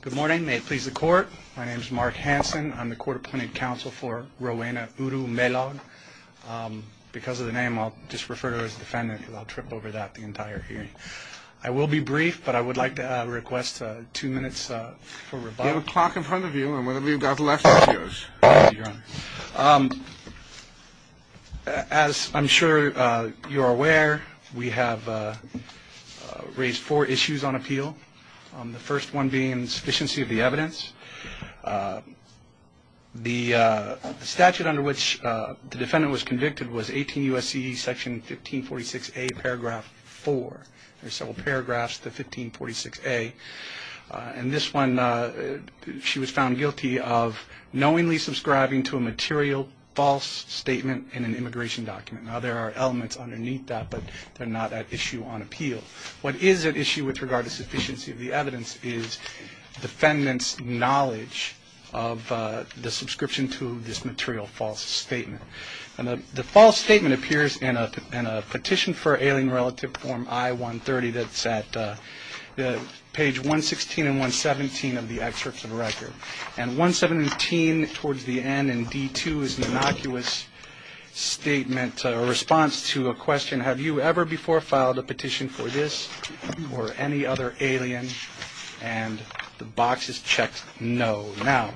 Good morning. May it please the court. My name is Mark Hanson. I'm the court appointed counsel for Rowena Urumelog. Because of the name, I'll just refer to her as defendant because I'll trip over that the entire hearing. I will be brief, but I would like to request two minutes for rebuttal. You have a clock in front of you, and one of you got the last two years. As I'm sure you're aware, we have raised four issues on appeal, the first one being sufficiency of the evidence. The statute under which the defendant was convicted was 18 U.S.C. Section 1546A, paragraph 4. There are several paragraphs to 1546A. In this one, she was found guilty of knowingly subscribing to a material false statement in an immigration document. Now, there are elements underneath that, but they're not at issue on appeal. What is at issue with regard to sufficiency of the evidence is defendant's knowledge of the subscription to this material false statement. And the false statement appears in a petition for ailing relative form I-130 that's at page 116 and 117 of the excerpts of the record. And 117 towards the end in D-2 is an innocuous statement, a response to a question, have you ever before filed a petition for this or any other alien? And the box is checked no. Now,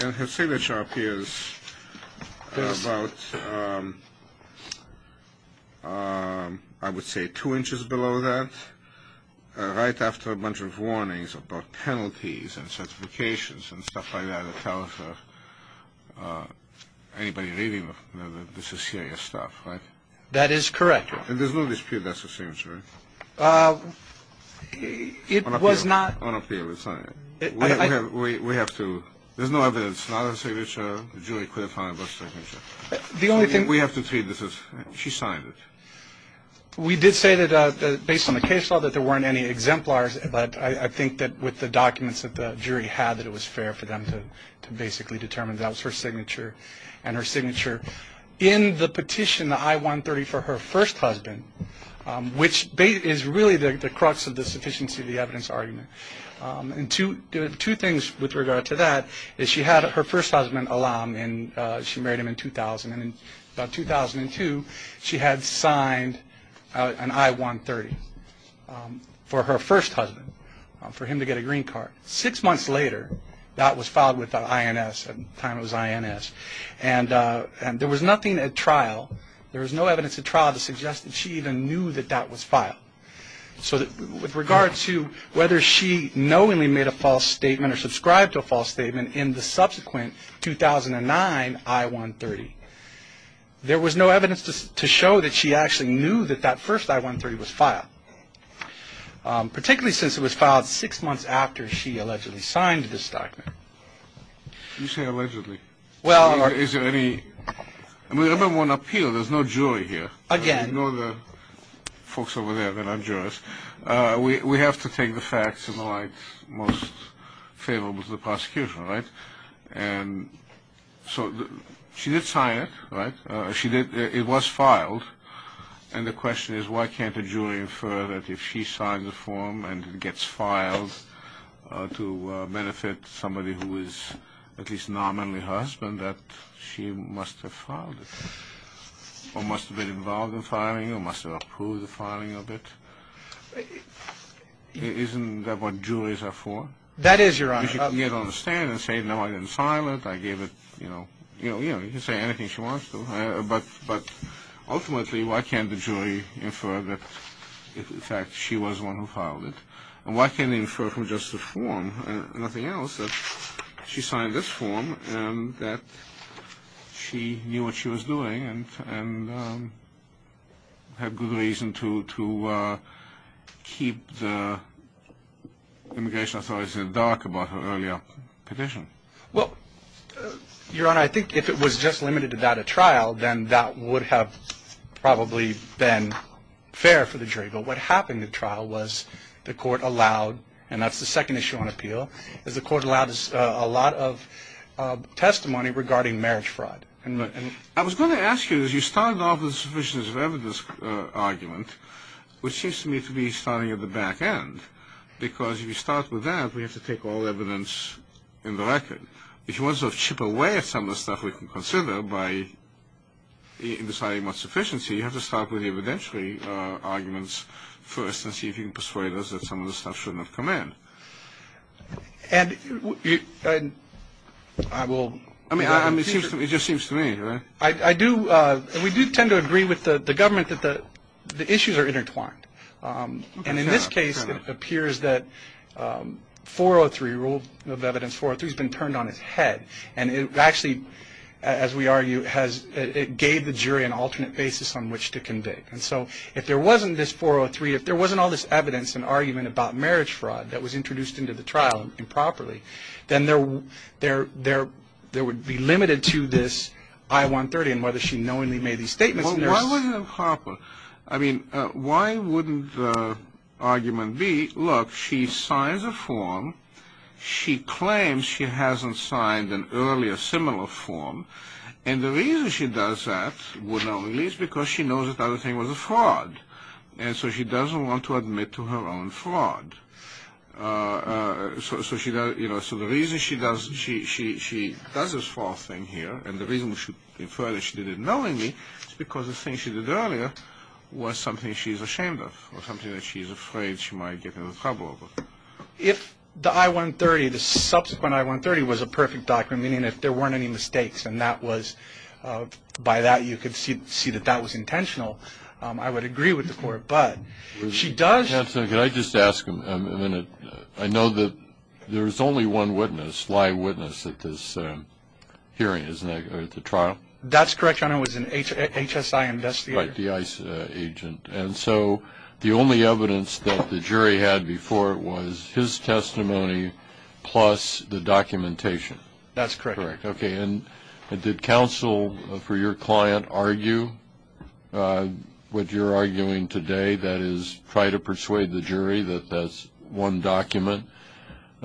her signature appears about, I would say, two inches below that, right after a bunch of warnings about penalties and certifications and stuff like that that tells anybody reading this is serious stuff, right? That is correct. And there's no dispute that's her signature, right? It was not. On appeal. We have to. There's no evidence. It's not her signature. The jury could have found it was her signature. The only thing. We have to treat this as she signed it. We did say that based on the case law that there weren't any exemplars, but I think that with the documents that the jury had, that it was fair for them to basically determine that was her signature and her signature. In the petition, the I-130 for her first husband, which is really the crux of the sufficiency of the evidence argument. And two things with regard to that is she had her first husband, Alam, and she married him in 2000. And in 2002, she had signed an I-130 for her first husband, for him to get a green card. Six months later, that was filed with the INS at the time it was INS. And there was nothing at trial. There was no evidence at trial to suggest that she even knew that that was filed. So with regard to whether she knowingly made a false statement or subscribed to a false statement in the subsequent 2009 I-130, there was no evidence to show that she actually knew that that first I-130 was filed, particularly since it was filed six months after she allegedly signed this document. You say allegedly. Well... Is there any... I mean, remember on appeal, there's no jury here. Again. You know the folks over there that are jurors. We have to take the facts in the light most favorable to the prosecution, right? And so she did sign it, right? It was filed. And the question is why can't a jury infer that if she signed the form and it gets filed to benefit somebody who is at least nominally her husband, that she must have filed it or must have been involved in filing or must have approved the filing of it? Isn't that what juries are for? That is, Your Honor. You can get on the stand and say, No, I didn't file it. I gave it, you know, you can say anything she wants to. But ultimately, why can't the jury infer that, in fact, she was the one who filed it? And why can't they infer from just the form and nothing else that she signed this form and that she knew what she was doing and had good reason to keep the immigration authorities in the dark about her earlier petition? Well, Your Honor, I think if it was just limited to that at trial, then that would have probably been fair for the jury. But what happened at trial was the court allowed, and that's the second issue on appeal, is the court allowed a lot of testimony regarding marriage fraud. I was going to ask you, as you started off with the sufficient evidence argument, which seems to me to be starting at the back end, because if you start with that, we have to take all evidence in the record. If you want to chip away at some of the stuff we can consider by deciding what's sufficiency, you have to start with the evidentiary arguments first and see if you can persuade us that some of the stuff should not come in. And I will... I mean, it just seems to me, right? I do, and we do tend to agree with the government that the issues are intertwined. And in this case, it appears that 403, rule of evidence 403, has been turned on its head. And it actually, as we argue, it gave the jury an alternate basis on which to convict. And so if there wasn't this 403, if there wasn't all this evidence and argument about marriage fraud that was introduced into the trial improperly, then there would be limited to this I-130 and whether she knowingly made these statements. Well, why was it improper? I mean, why wouldn't the argument be, look, she signs a form. She claims she hasn't signed an earlier similar form. And the reason she does that, would not release, because she knows that the other thing was a fraud. And so she doesn't want to admit to her own fraud. So the reason she does this false thing here, and the reason we should infer that she did it knowingly, is because the thing she did earlier was something she's ashamed of or something that she's afraid she might get into trouble over. If the I-130, the subsequent I-130, was a perfect document, meaning if there weren't any mistakes, and that was, by that you could see that that was intentional, I would agree with the court. But she does. Counsel, can I just ask a minute? I know that there is only one witness, live witness, at this hearing, isn't there, at the trial? That's correct, Your Honor. It was an HSI investigator. Right, the ICE agent. And so the only evidence that the jury had before it was his testimony plus the documentation. That's correct. Okay. And did counsel, for your client, argue what you're arguing today? That is, try to persuade the jury that that's one document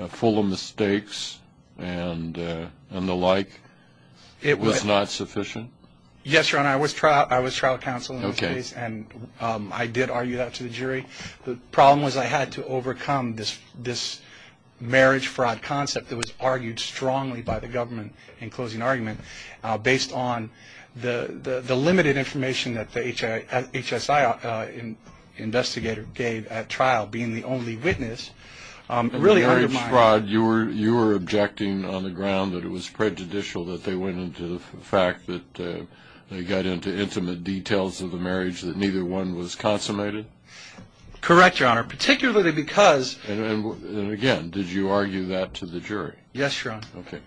full of mistakes and the like was not sufficient? Yes, Your Honor, I was trial counsel in this case, and I did argue that to the jury. The problem was I had to overcome this marriage fraud concept that was argued strongly by the government in closing argument, based on the limited information that the HSI investigator gave at trial, being the only witness, really undermined. Marriage fraud, you were objecting on the ground that it was prejudicial that they went into the fact that they got into intimate details of the marriage, that neither one was consummated? Correct, Your Honor, particularly because. And, again, did you argue that to the jury? Yes, Your Honor. Okay.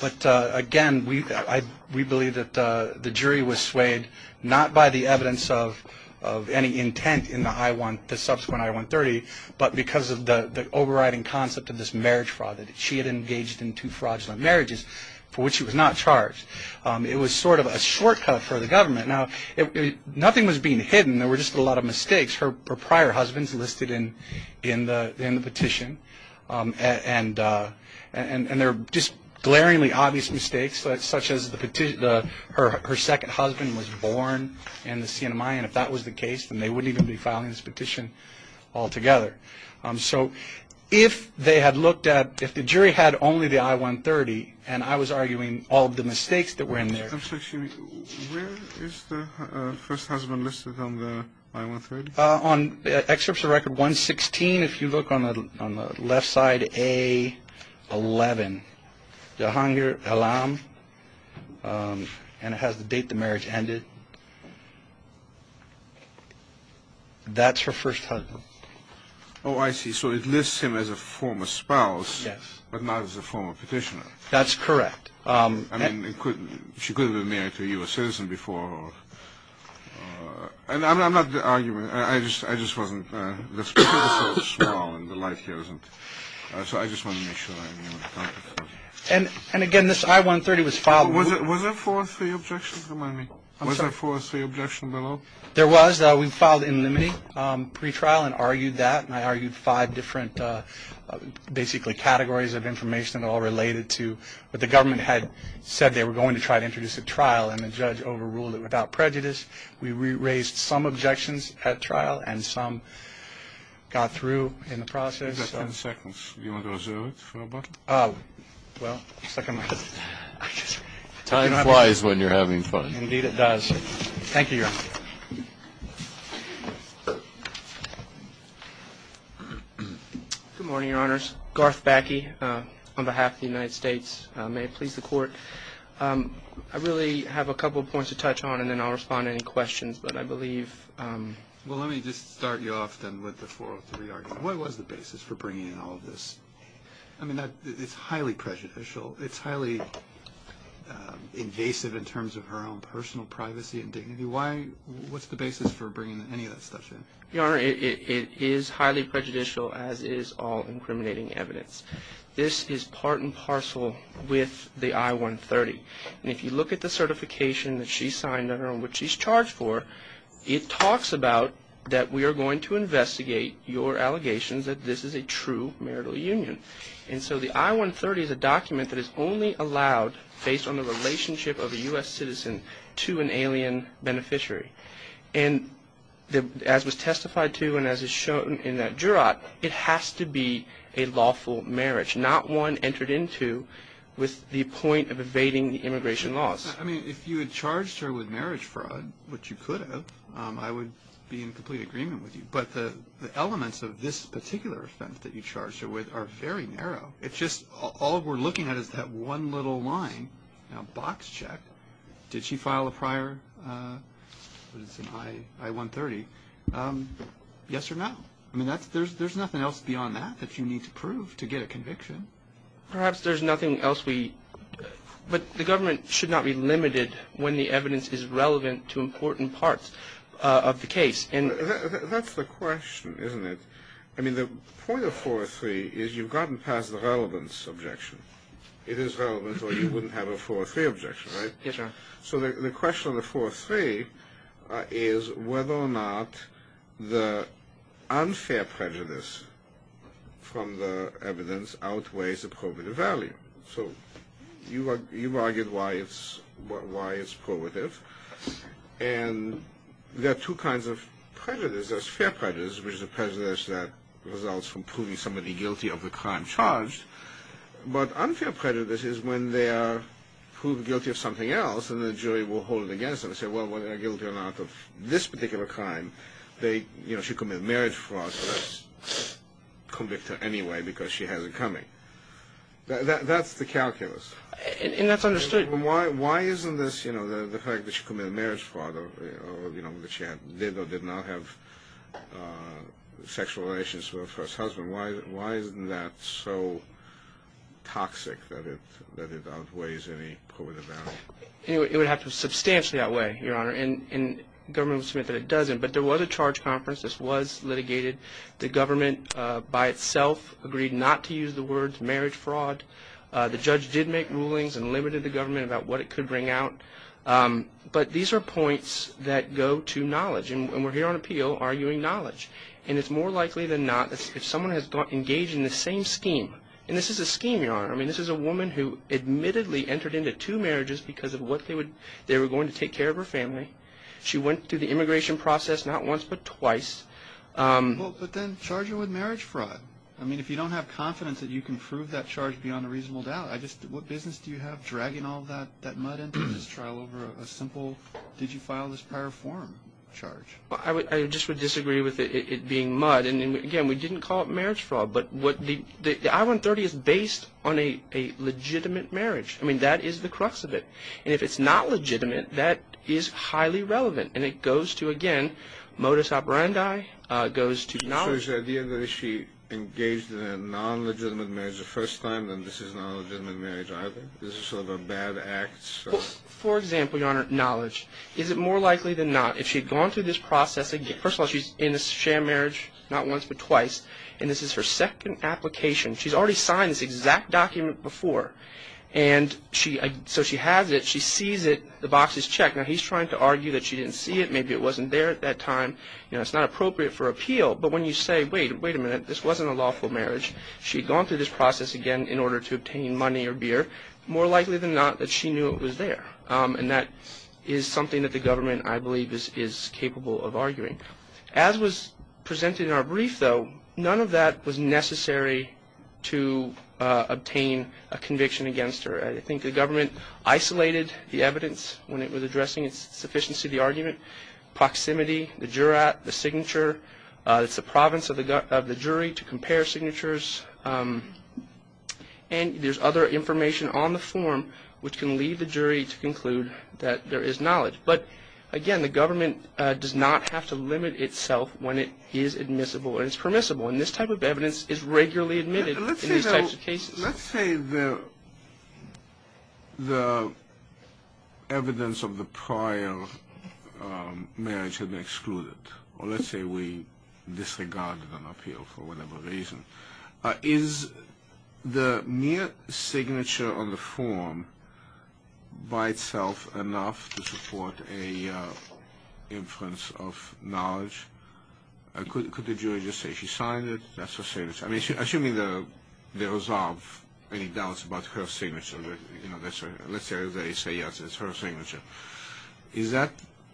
But, again, we believe that the jury was swayed not by the evidence of any intent in the subsequent I-130, but because of the overriding concept of this marriage fraud, that she had engaged in two fraudulent marriages for which she was not charged. It was sort of a shortcut for the government. Now, nothing was being hidden. There were just a lot of mistakes. There were prior husbands listed in the petition, and there were just glaringly obvious mistakes, such as her second husband was born in the Siena Mayan. If that was the case, then they wouldn't even be filing this petition altogether. So if they had looked at, if the jury had only the I-130, and I was arguing all of the mistakes that were in there. Where is the first husband listed on the I-130? On Excerpt of Record 116, if you look on the left side, A11. Jahangir Alam, and it has the date the marriage ended. That's her first husband. Oh, I see. So it lists him as a former spouse, but not as a former petitioner. That's correct. I mean, she could have been married to a U.S. citizen before. And I'm not arguing. I just wasn't. The speech was so small, and the light here isn't. So I just wanted to make sure that I'm in the context. And, again, this I-130 was filed. Was there four or three objections? Remind me. I'm sorry. Was there four or three objections below? There was. We filed in limine pre-trial and argued that, and I argued five different basically categories of information, all related to what the government had said they were going to try to introduce at trial, and the judge overruled it without prejudice. We raised some objections at trial, and some got through in the process. You've got ten seconds. Do you want to go to zero? Well, second. Time flies when you're having fun. Indeed it does. Thank you, Your Honor. Good morning, Your Honors. Garth Backe, on behalf of the United States. May it please the Court. I really have a couple of points to touch on, and then I'll respond to any questions, but I believe. Well, let me just start you off, then, with the four or three arguments. What was the basis for bringing in all of this? I mean, it's highly prejudicial. It's highly invasive in terms of her own personal privacy and dignity. Why? What's the basis for bringing any of that stuff in? Your Honor, it is highly prejudicial, as is all incriminating evidence. This is part and parcel with the I-130. And if you look at the certification that she signed on her own, which she's charged for, it talks about that we are going to investigate your allegations that this is a true marital union. And so the I-130 is a document that is only allowed based on the relationship of a U.S. citizen to an alien beneficiary. And as was testified to and as is shown in that jurat, it has to be a lawful marriage, not one entered into with the point of evading the immigration laws. I mean, if you had charged her with marriage fraud, which you could have, I would be in complete agreement with you. But the elements of this particular offense that you charged her with are very narrow. It's just all we're looking at is that one little line, box check. Did she file a prior I-130? Yes or no? I mean, there's nothing else beyond that that you need to prove to get a conviction. Perhaps there's nothing else we do. But the government should not be limited when the evidence is relevant to important parts of the case. That's the question, isn't it? I mean, the point of 4-3 is you've gotten past the relevance objection. It is relevant or you wouldn't have a 4-3 objection, right? Yes, Your Honor. So the question of the 4-3 is whether or not the unfair prejudice from the evidence outweighs the probative value. So you've argued why it's probative. And there are two kinds of prejudice. There's fair prejudice, which is a prejudice that results from proving somebody guilty of the crime charged. But unfair prejudice is when they are proved guilty of something else and the jury will hold it against them and say, well, whether they're guilty or not of this particular crime, she committed marriage fraud, so let's convict her anyway because she has it coming. That's the calculus. And that's understood. Why isn't this, you know, the fact that she committed marriage fraud or, you know, did or did not have sexual relations with her first husband, why isn't that so toxic that it outweighs any probative value? It would have to substantially outweigh, Your Honor, and the government would submit that it doesn't. But there was a charge conference. This was litigated. The government by itself agreed not to use the words marriage fraud. The judge did make rulings and limited the government about what it could bring out. But these are points that go to knowledge. And we're here on appeal arguing knowledge. And it's more likely than not if someone has engaged in the same scheme, and this is a scheme, Your Honor. I mean, this is a woman who admittedly entered into two marriages because of what they were going to take care of her family. She went through the immigration process not once but twice. Well, but then charge her with marriage fraud. I mean, if you don't have confidence that you can prove that charge beyond a reasonable doubt, what business do you have dragging all that mud into this trial over a simple, did you file this power of forum charge? I just would disagree with it being mud. And, again, we didn't call it marriage fraud. But the I-130 is based on a legitimate marriage. I mean, that is the crux of it. And if it's not legitimate, that is highly relevant. And it goes to, again, modus operandi, goes to knowledge. So is the idea that if she engaged in a non-legitimate marriage the first time, then this is not a legitimate marriage either? This is sort of a bad act? For example, Your Honor, knowledge. Is it more likely than not, if she had gone through this process, first of all, she's in a sham marriage not once but twice. And this is her second application. She's already signed this exact document before. And so she has it. She sees it. The box is checked. Now, he's trying to argue that she didn't see it. Maybe it wasn't there at that time. You know, it's not appropriate for appeal. But when you say, wait, wait a minute, this wasn't a lawful marriage. She had gone through this process, again, in order to obtain money or beer. More likely than not that she knew it was there. And that is something that the government, I believe, is capable of arguing. As was presented in our brief, though, none of that was necessary to obtain a conviction against her. I think the government isolated the evidence when it was addressing its sufficiency of the argument, proximity, the jurat, the signature. It's the province of the jury to compare signatures. And there's other information on the form which can lead the jury to conclude that there is knowledge. But, again, the government does not have to limit itself when it is admissible and it's permissible. And this type of evidence is regularly admitted in these types of cases. Let's say the evidence of the prior marriage had been excluded. Or let's say we disregarded an appeal for whatever reason. Is the mere signature on the form by itself enough to support an inference of knowledge? Could the jury just say she signed it? Assuming they resolve any doubts about her signature, let's say they say, yes, it's her signature.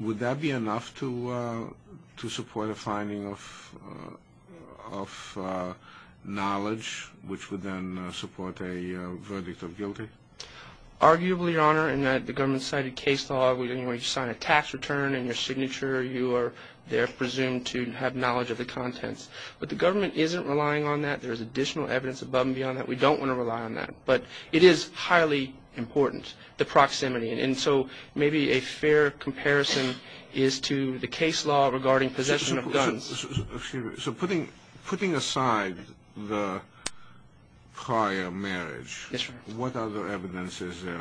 Would that be enough to support a finding of knowledge which would then support a verdict of guilty? Arguably, Your Honor, in the government-cited case law, when you sign a tax return in your signature, you are there presumed to have knowledge of the contents. But the government isn't relying on that. There is additional evidence above and beyond that. We don't want to rely on that. But it is highly important, the proximity. And so maybe a fair comparison is to the case law regarding possession of guns. So putting aside the prior marriage, what other evidence is there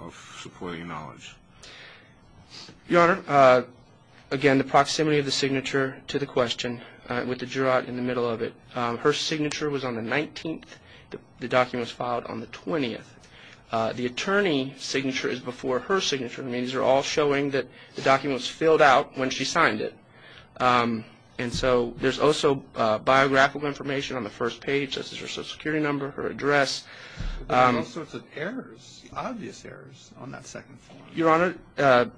of supporting knowledge? Your Honor, again, the proximity of the signature to the question with the juror in the middle of it. Her signature was on the 19th. The document was filed on the 20th. The attorney's signature is before her signature. These are all showing that the document was filled out when she signed it. And so there's also biographical information on the first page. This is her Social Security number, her address. There are all sorts of errors, obvious errors, on that second form. Your Honor,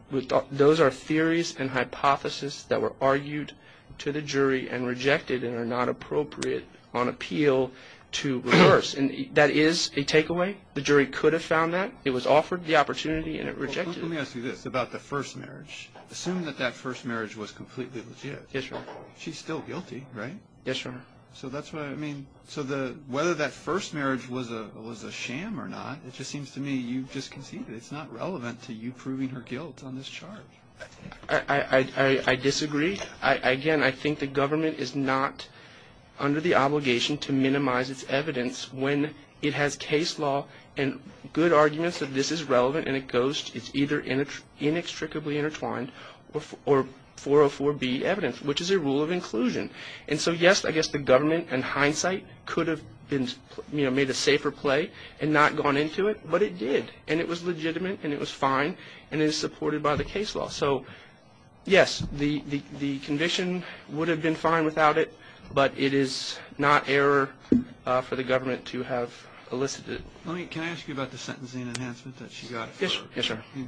those are theories and hypotheses that were argued to the jury and rejected and are not appropriate on appeal to reverse. And that is a takeaway. The jury could have found that. It was offered the opportunity and it rejected it. Well, let me ask you this about the first marriage. Assume that that first marriage was completely legit. Yes, Your Honor. She's still guilty, right? Yes, Your Honor. So that's what I mean. So whether that first marriage was a sham or not, it just seems to me you've just conceded. It's not relevant to you proving her guilt on this charge. I disagree. Again, I think the government is not under the obligation to minimize its evidence when it has case law and good arguments that this is relevant and it goes, it's either inextricably intertwined or 404B evidence, which is a rule of inclusion. And so, yes, I guess the government in hindsight could have made a safer play and not gone into it, but it did. And it was legitimate and it was fine and it is supported by the case law. So, yes, the conviction would have been fine without it, but it is not error for the government to have elicited. Can I ask you about the sentencing enhancement that she got? Yes, Your Honor.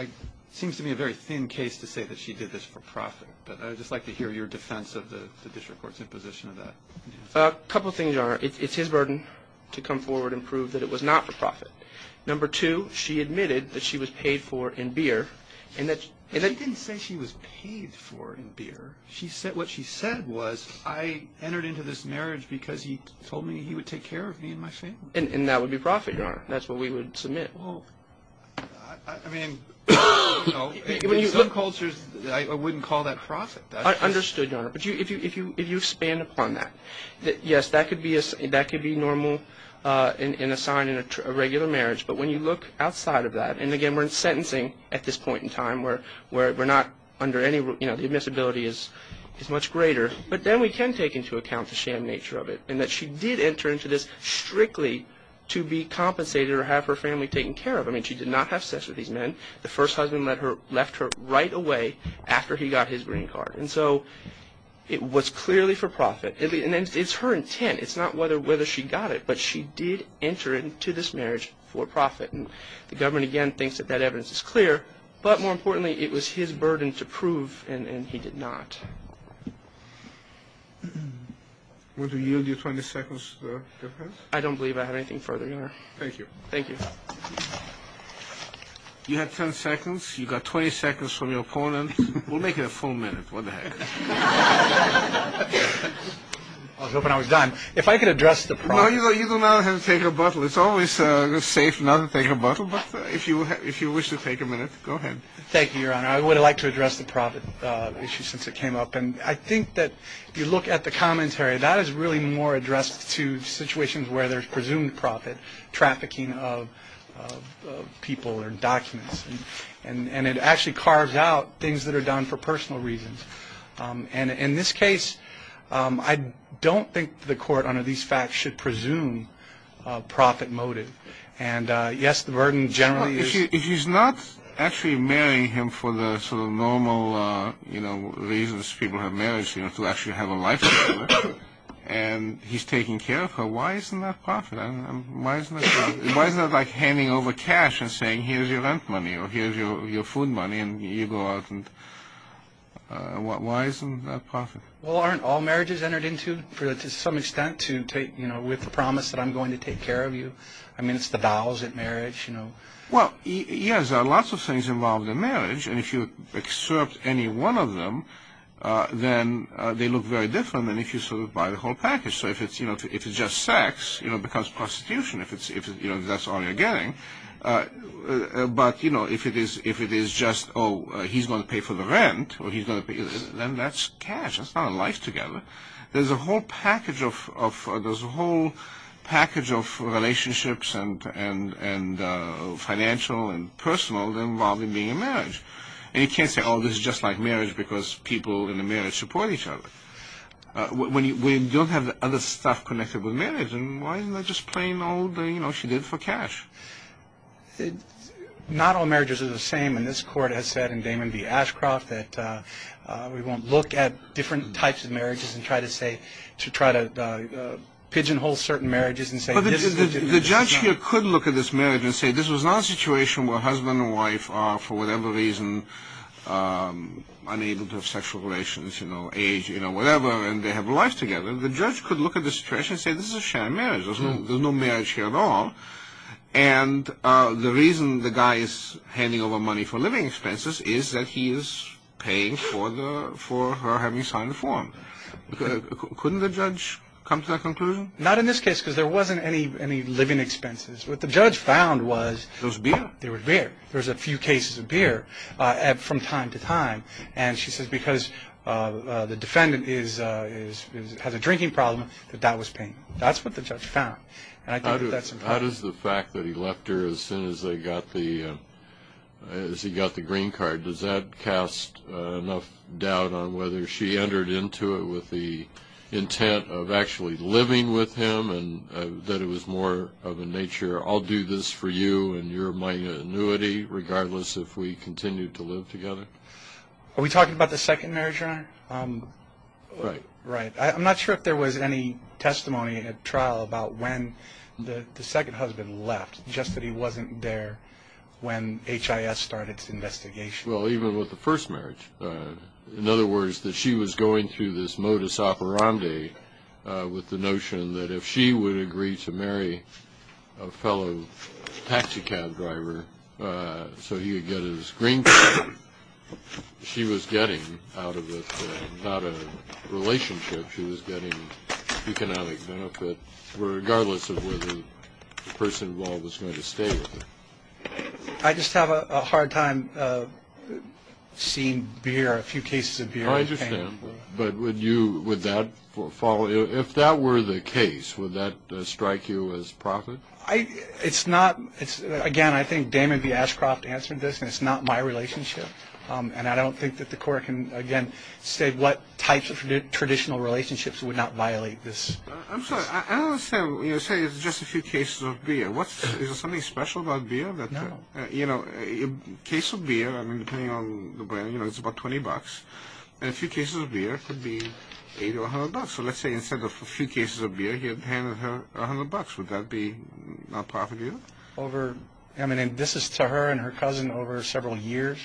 It seems to me a very thin case to say that she did this for profit, but I would just like to hear your defense of the district court's imposition of that. A couple things, Your Honor. It's his burden to come forward and prove that it was not for profit. Number two, she admitted that she was paid for in beer. She didn't say she was paid for in beer. What she said was, I entered into this marriage because he told me he would take care of me and my family. And that would be profit, Your Honor. That's what we would submit. I mean, in some cultures, I wouldn't call that profit. I understood, Your Honor. But if you expand upon that, yes, that could be normal and a sign in a regular marriage. But when you look outside of that, and, again, we're in sentencing at this point in time where we're not under any, you know, the admissibility is much greater, but then we can take into account the sham nature of it and that she did enter into this strictly to be compensated or have her family taken care of. I mean, she did not have sex with these men. The first husband left her right away after he got his green card. And so it was clearly for profit. And it's her intent. It's not whether she got it, but she did enter into this marriage for profit. And the government, again, thinks that that evidence is clear. But more importantly, it was his burden to prove, and he did not. Would you yield your 20 seconds, Your Honor? I don't believe I have anything further, Your Honor. Thank you. Thank you. You had 10 seconds. You got 20 seconds from your opponent. We'll make it a full minute. What the heck? I was hoping I was done. If I could address the profit. No, you do not have to take a bottle. It's always safe not to take a bottle. But if you wish to take a minute, go ahead. Thank you, Your Honor. I would like to address the profit issue since it came up. And I think that if you look at the commentary, that is really more addressed to situations where there's presumed profit, trafficking of people or documents. And it actually carves out things that are done for personal reasons. And in this case, I don't think the court under these facts should presume profit motive. And, yes, the burden generally is. He's not actually marrying him for the sort of normal, you know, reasons people have marriage, you know, to actually have a life together. And he's taking care of her. Why isn't that profit? Why isn't it like handing over cash and saying, here's your rent money or here's your food money and you go out. Why isn't that profit? Well, aren't all marriages entered into to some extent to take, you know, with the promise that I'm going to take care of you? I mean, it's the vows at marriage, you know. Well, yes, there are lots of things involved in marriage. And if you excerpt any one of them, then they look very different than if you sort of buy the whole package. So if it's just sex, it becomes prostitution if that's all you're getting. But, you know, if it is just, oh, he's going to pay for the rent, then that's cash, that's not a life together. There's a whole package of relationships and financial and personal involved in being in marriage. And you can't say, oh, this is just like marriage because people in the marriage support each other. We don't have other stuff connected with marriage. And why isn't that just plain old, you know, she did it for cash? Not all marriages are the same. And this court has said in Damon v. Ashcroft that we won't look at different types of marriages and try to pigeonhole certain marriages and say this is marriage. The judge here could look at this marriage and say this was not a situation where husband and wife are, for whatever reason, unable to have sexual relations, you know, age, you know, whatever, and they have a life together. The judge could look at the situation and say this is a shared marriage. There's no marriage here at all. And the reason the guy is handing over money for living expenses is that he is paying for her having signed the form. Couldn't the judge come to that conclusion? Not in this case because there wasn't any living expenses. What the judge found was there was beer. There was a few cases of beer from time to time. And she says because the defendant has a drinking problem that that was paying. That's what the judge found. How does the fact that he left her as soon as he got the green card, does that cast enough doubt on whether she entered into it with the intent of actually living with him and that it was more of a nature I'll do this for you and you're my annuity, regardless if we continue to live together? Are we talking about the second marriage, Your Honor? Right. Right. I'm not sure if there was any testimony at trial about when the second husband left, just that he wasn't there when HIS started its investigation. Well, even with the first marriage. In other words, that she was going through this modus operandi with the notion that if she would agree to marry a fellow economic benefit, regardless of whether the person involved was going to stay with her. I just have a hard time seeing beer, a few cases of beer. I understand. But would you, would that follow? If that were the case, would that strike you as profit? It's not. Again, I think Damon B. Ashcroft answered this, and it's not my relationship. And I don't think that the court can, again, say what types of traditional relationships would not violate this. I'm sorry. I don't understand. You say it's just a few cases of beer. Is there something special about beer? No. You know, a case of beer, I mean, depending on the brand, you know, it's about $20. And a few cases of beer could be $80 or $100. So let's say instead of a few cases of beer, he had handed her $100. Would that be not profit to you? I mean, this is to her and her cousin over several years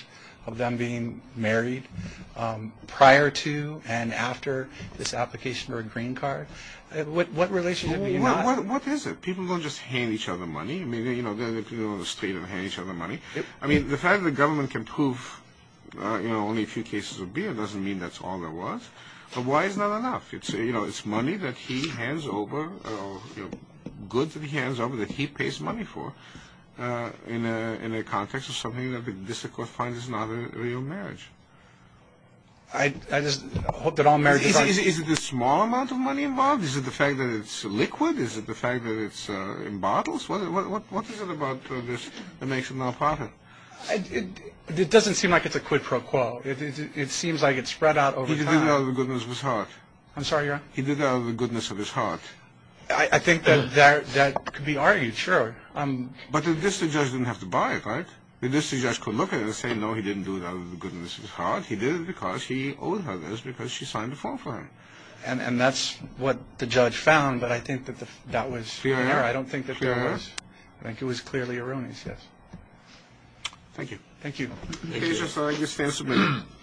of them being married, prior to and after this application for a green card. What relationship would you not have? What is it? People don't just hand each other money. I mean, you know, they could go on the street and hand each other money. I mean, the fact that the government can prove, you know, only a few cases of beer doesn't mean that's all there was. But why is not enough? You know, it's money that he hands over, goods that he hands over, that he pays money for, in the context of something that the district court finds is not a real marriage. I just hope that all marriages are— Is it the small amount of money involved? Is it the fact that it's liquid? Is it the fact that it's in bottles? What is it about this that makes it not profit? It doesn't seem like it's a quid pro quo. It seems like it's spread out over time. He did it out of the goodness of his heart. I'm sorry, Your Honor? He did it out of the goodness of his heart. I think that could be argued, sure. But the district judge didn't have to buy it, right? The district judge could look at it and say, no, he didn't do it out of the goodness of his heart. He did it because he owed her this because she signed a form for him. And that's what the judge found, but I think that that was— Clear error? I don't think that there was. I think it was clearly a ruin, yes. Thank you. Thank you. Thank you. Thank you, Your Honor. Thank you. Thank you.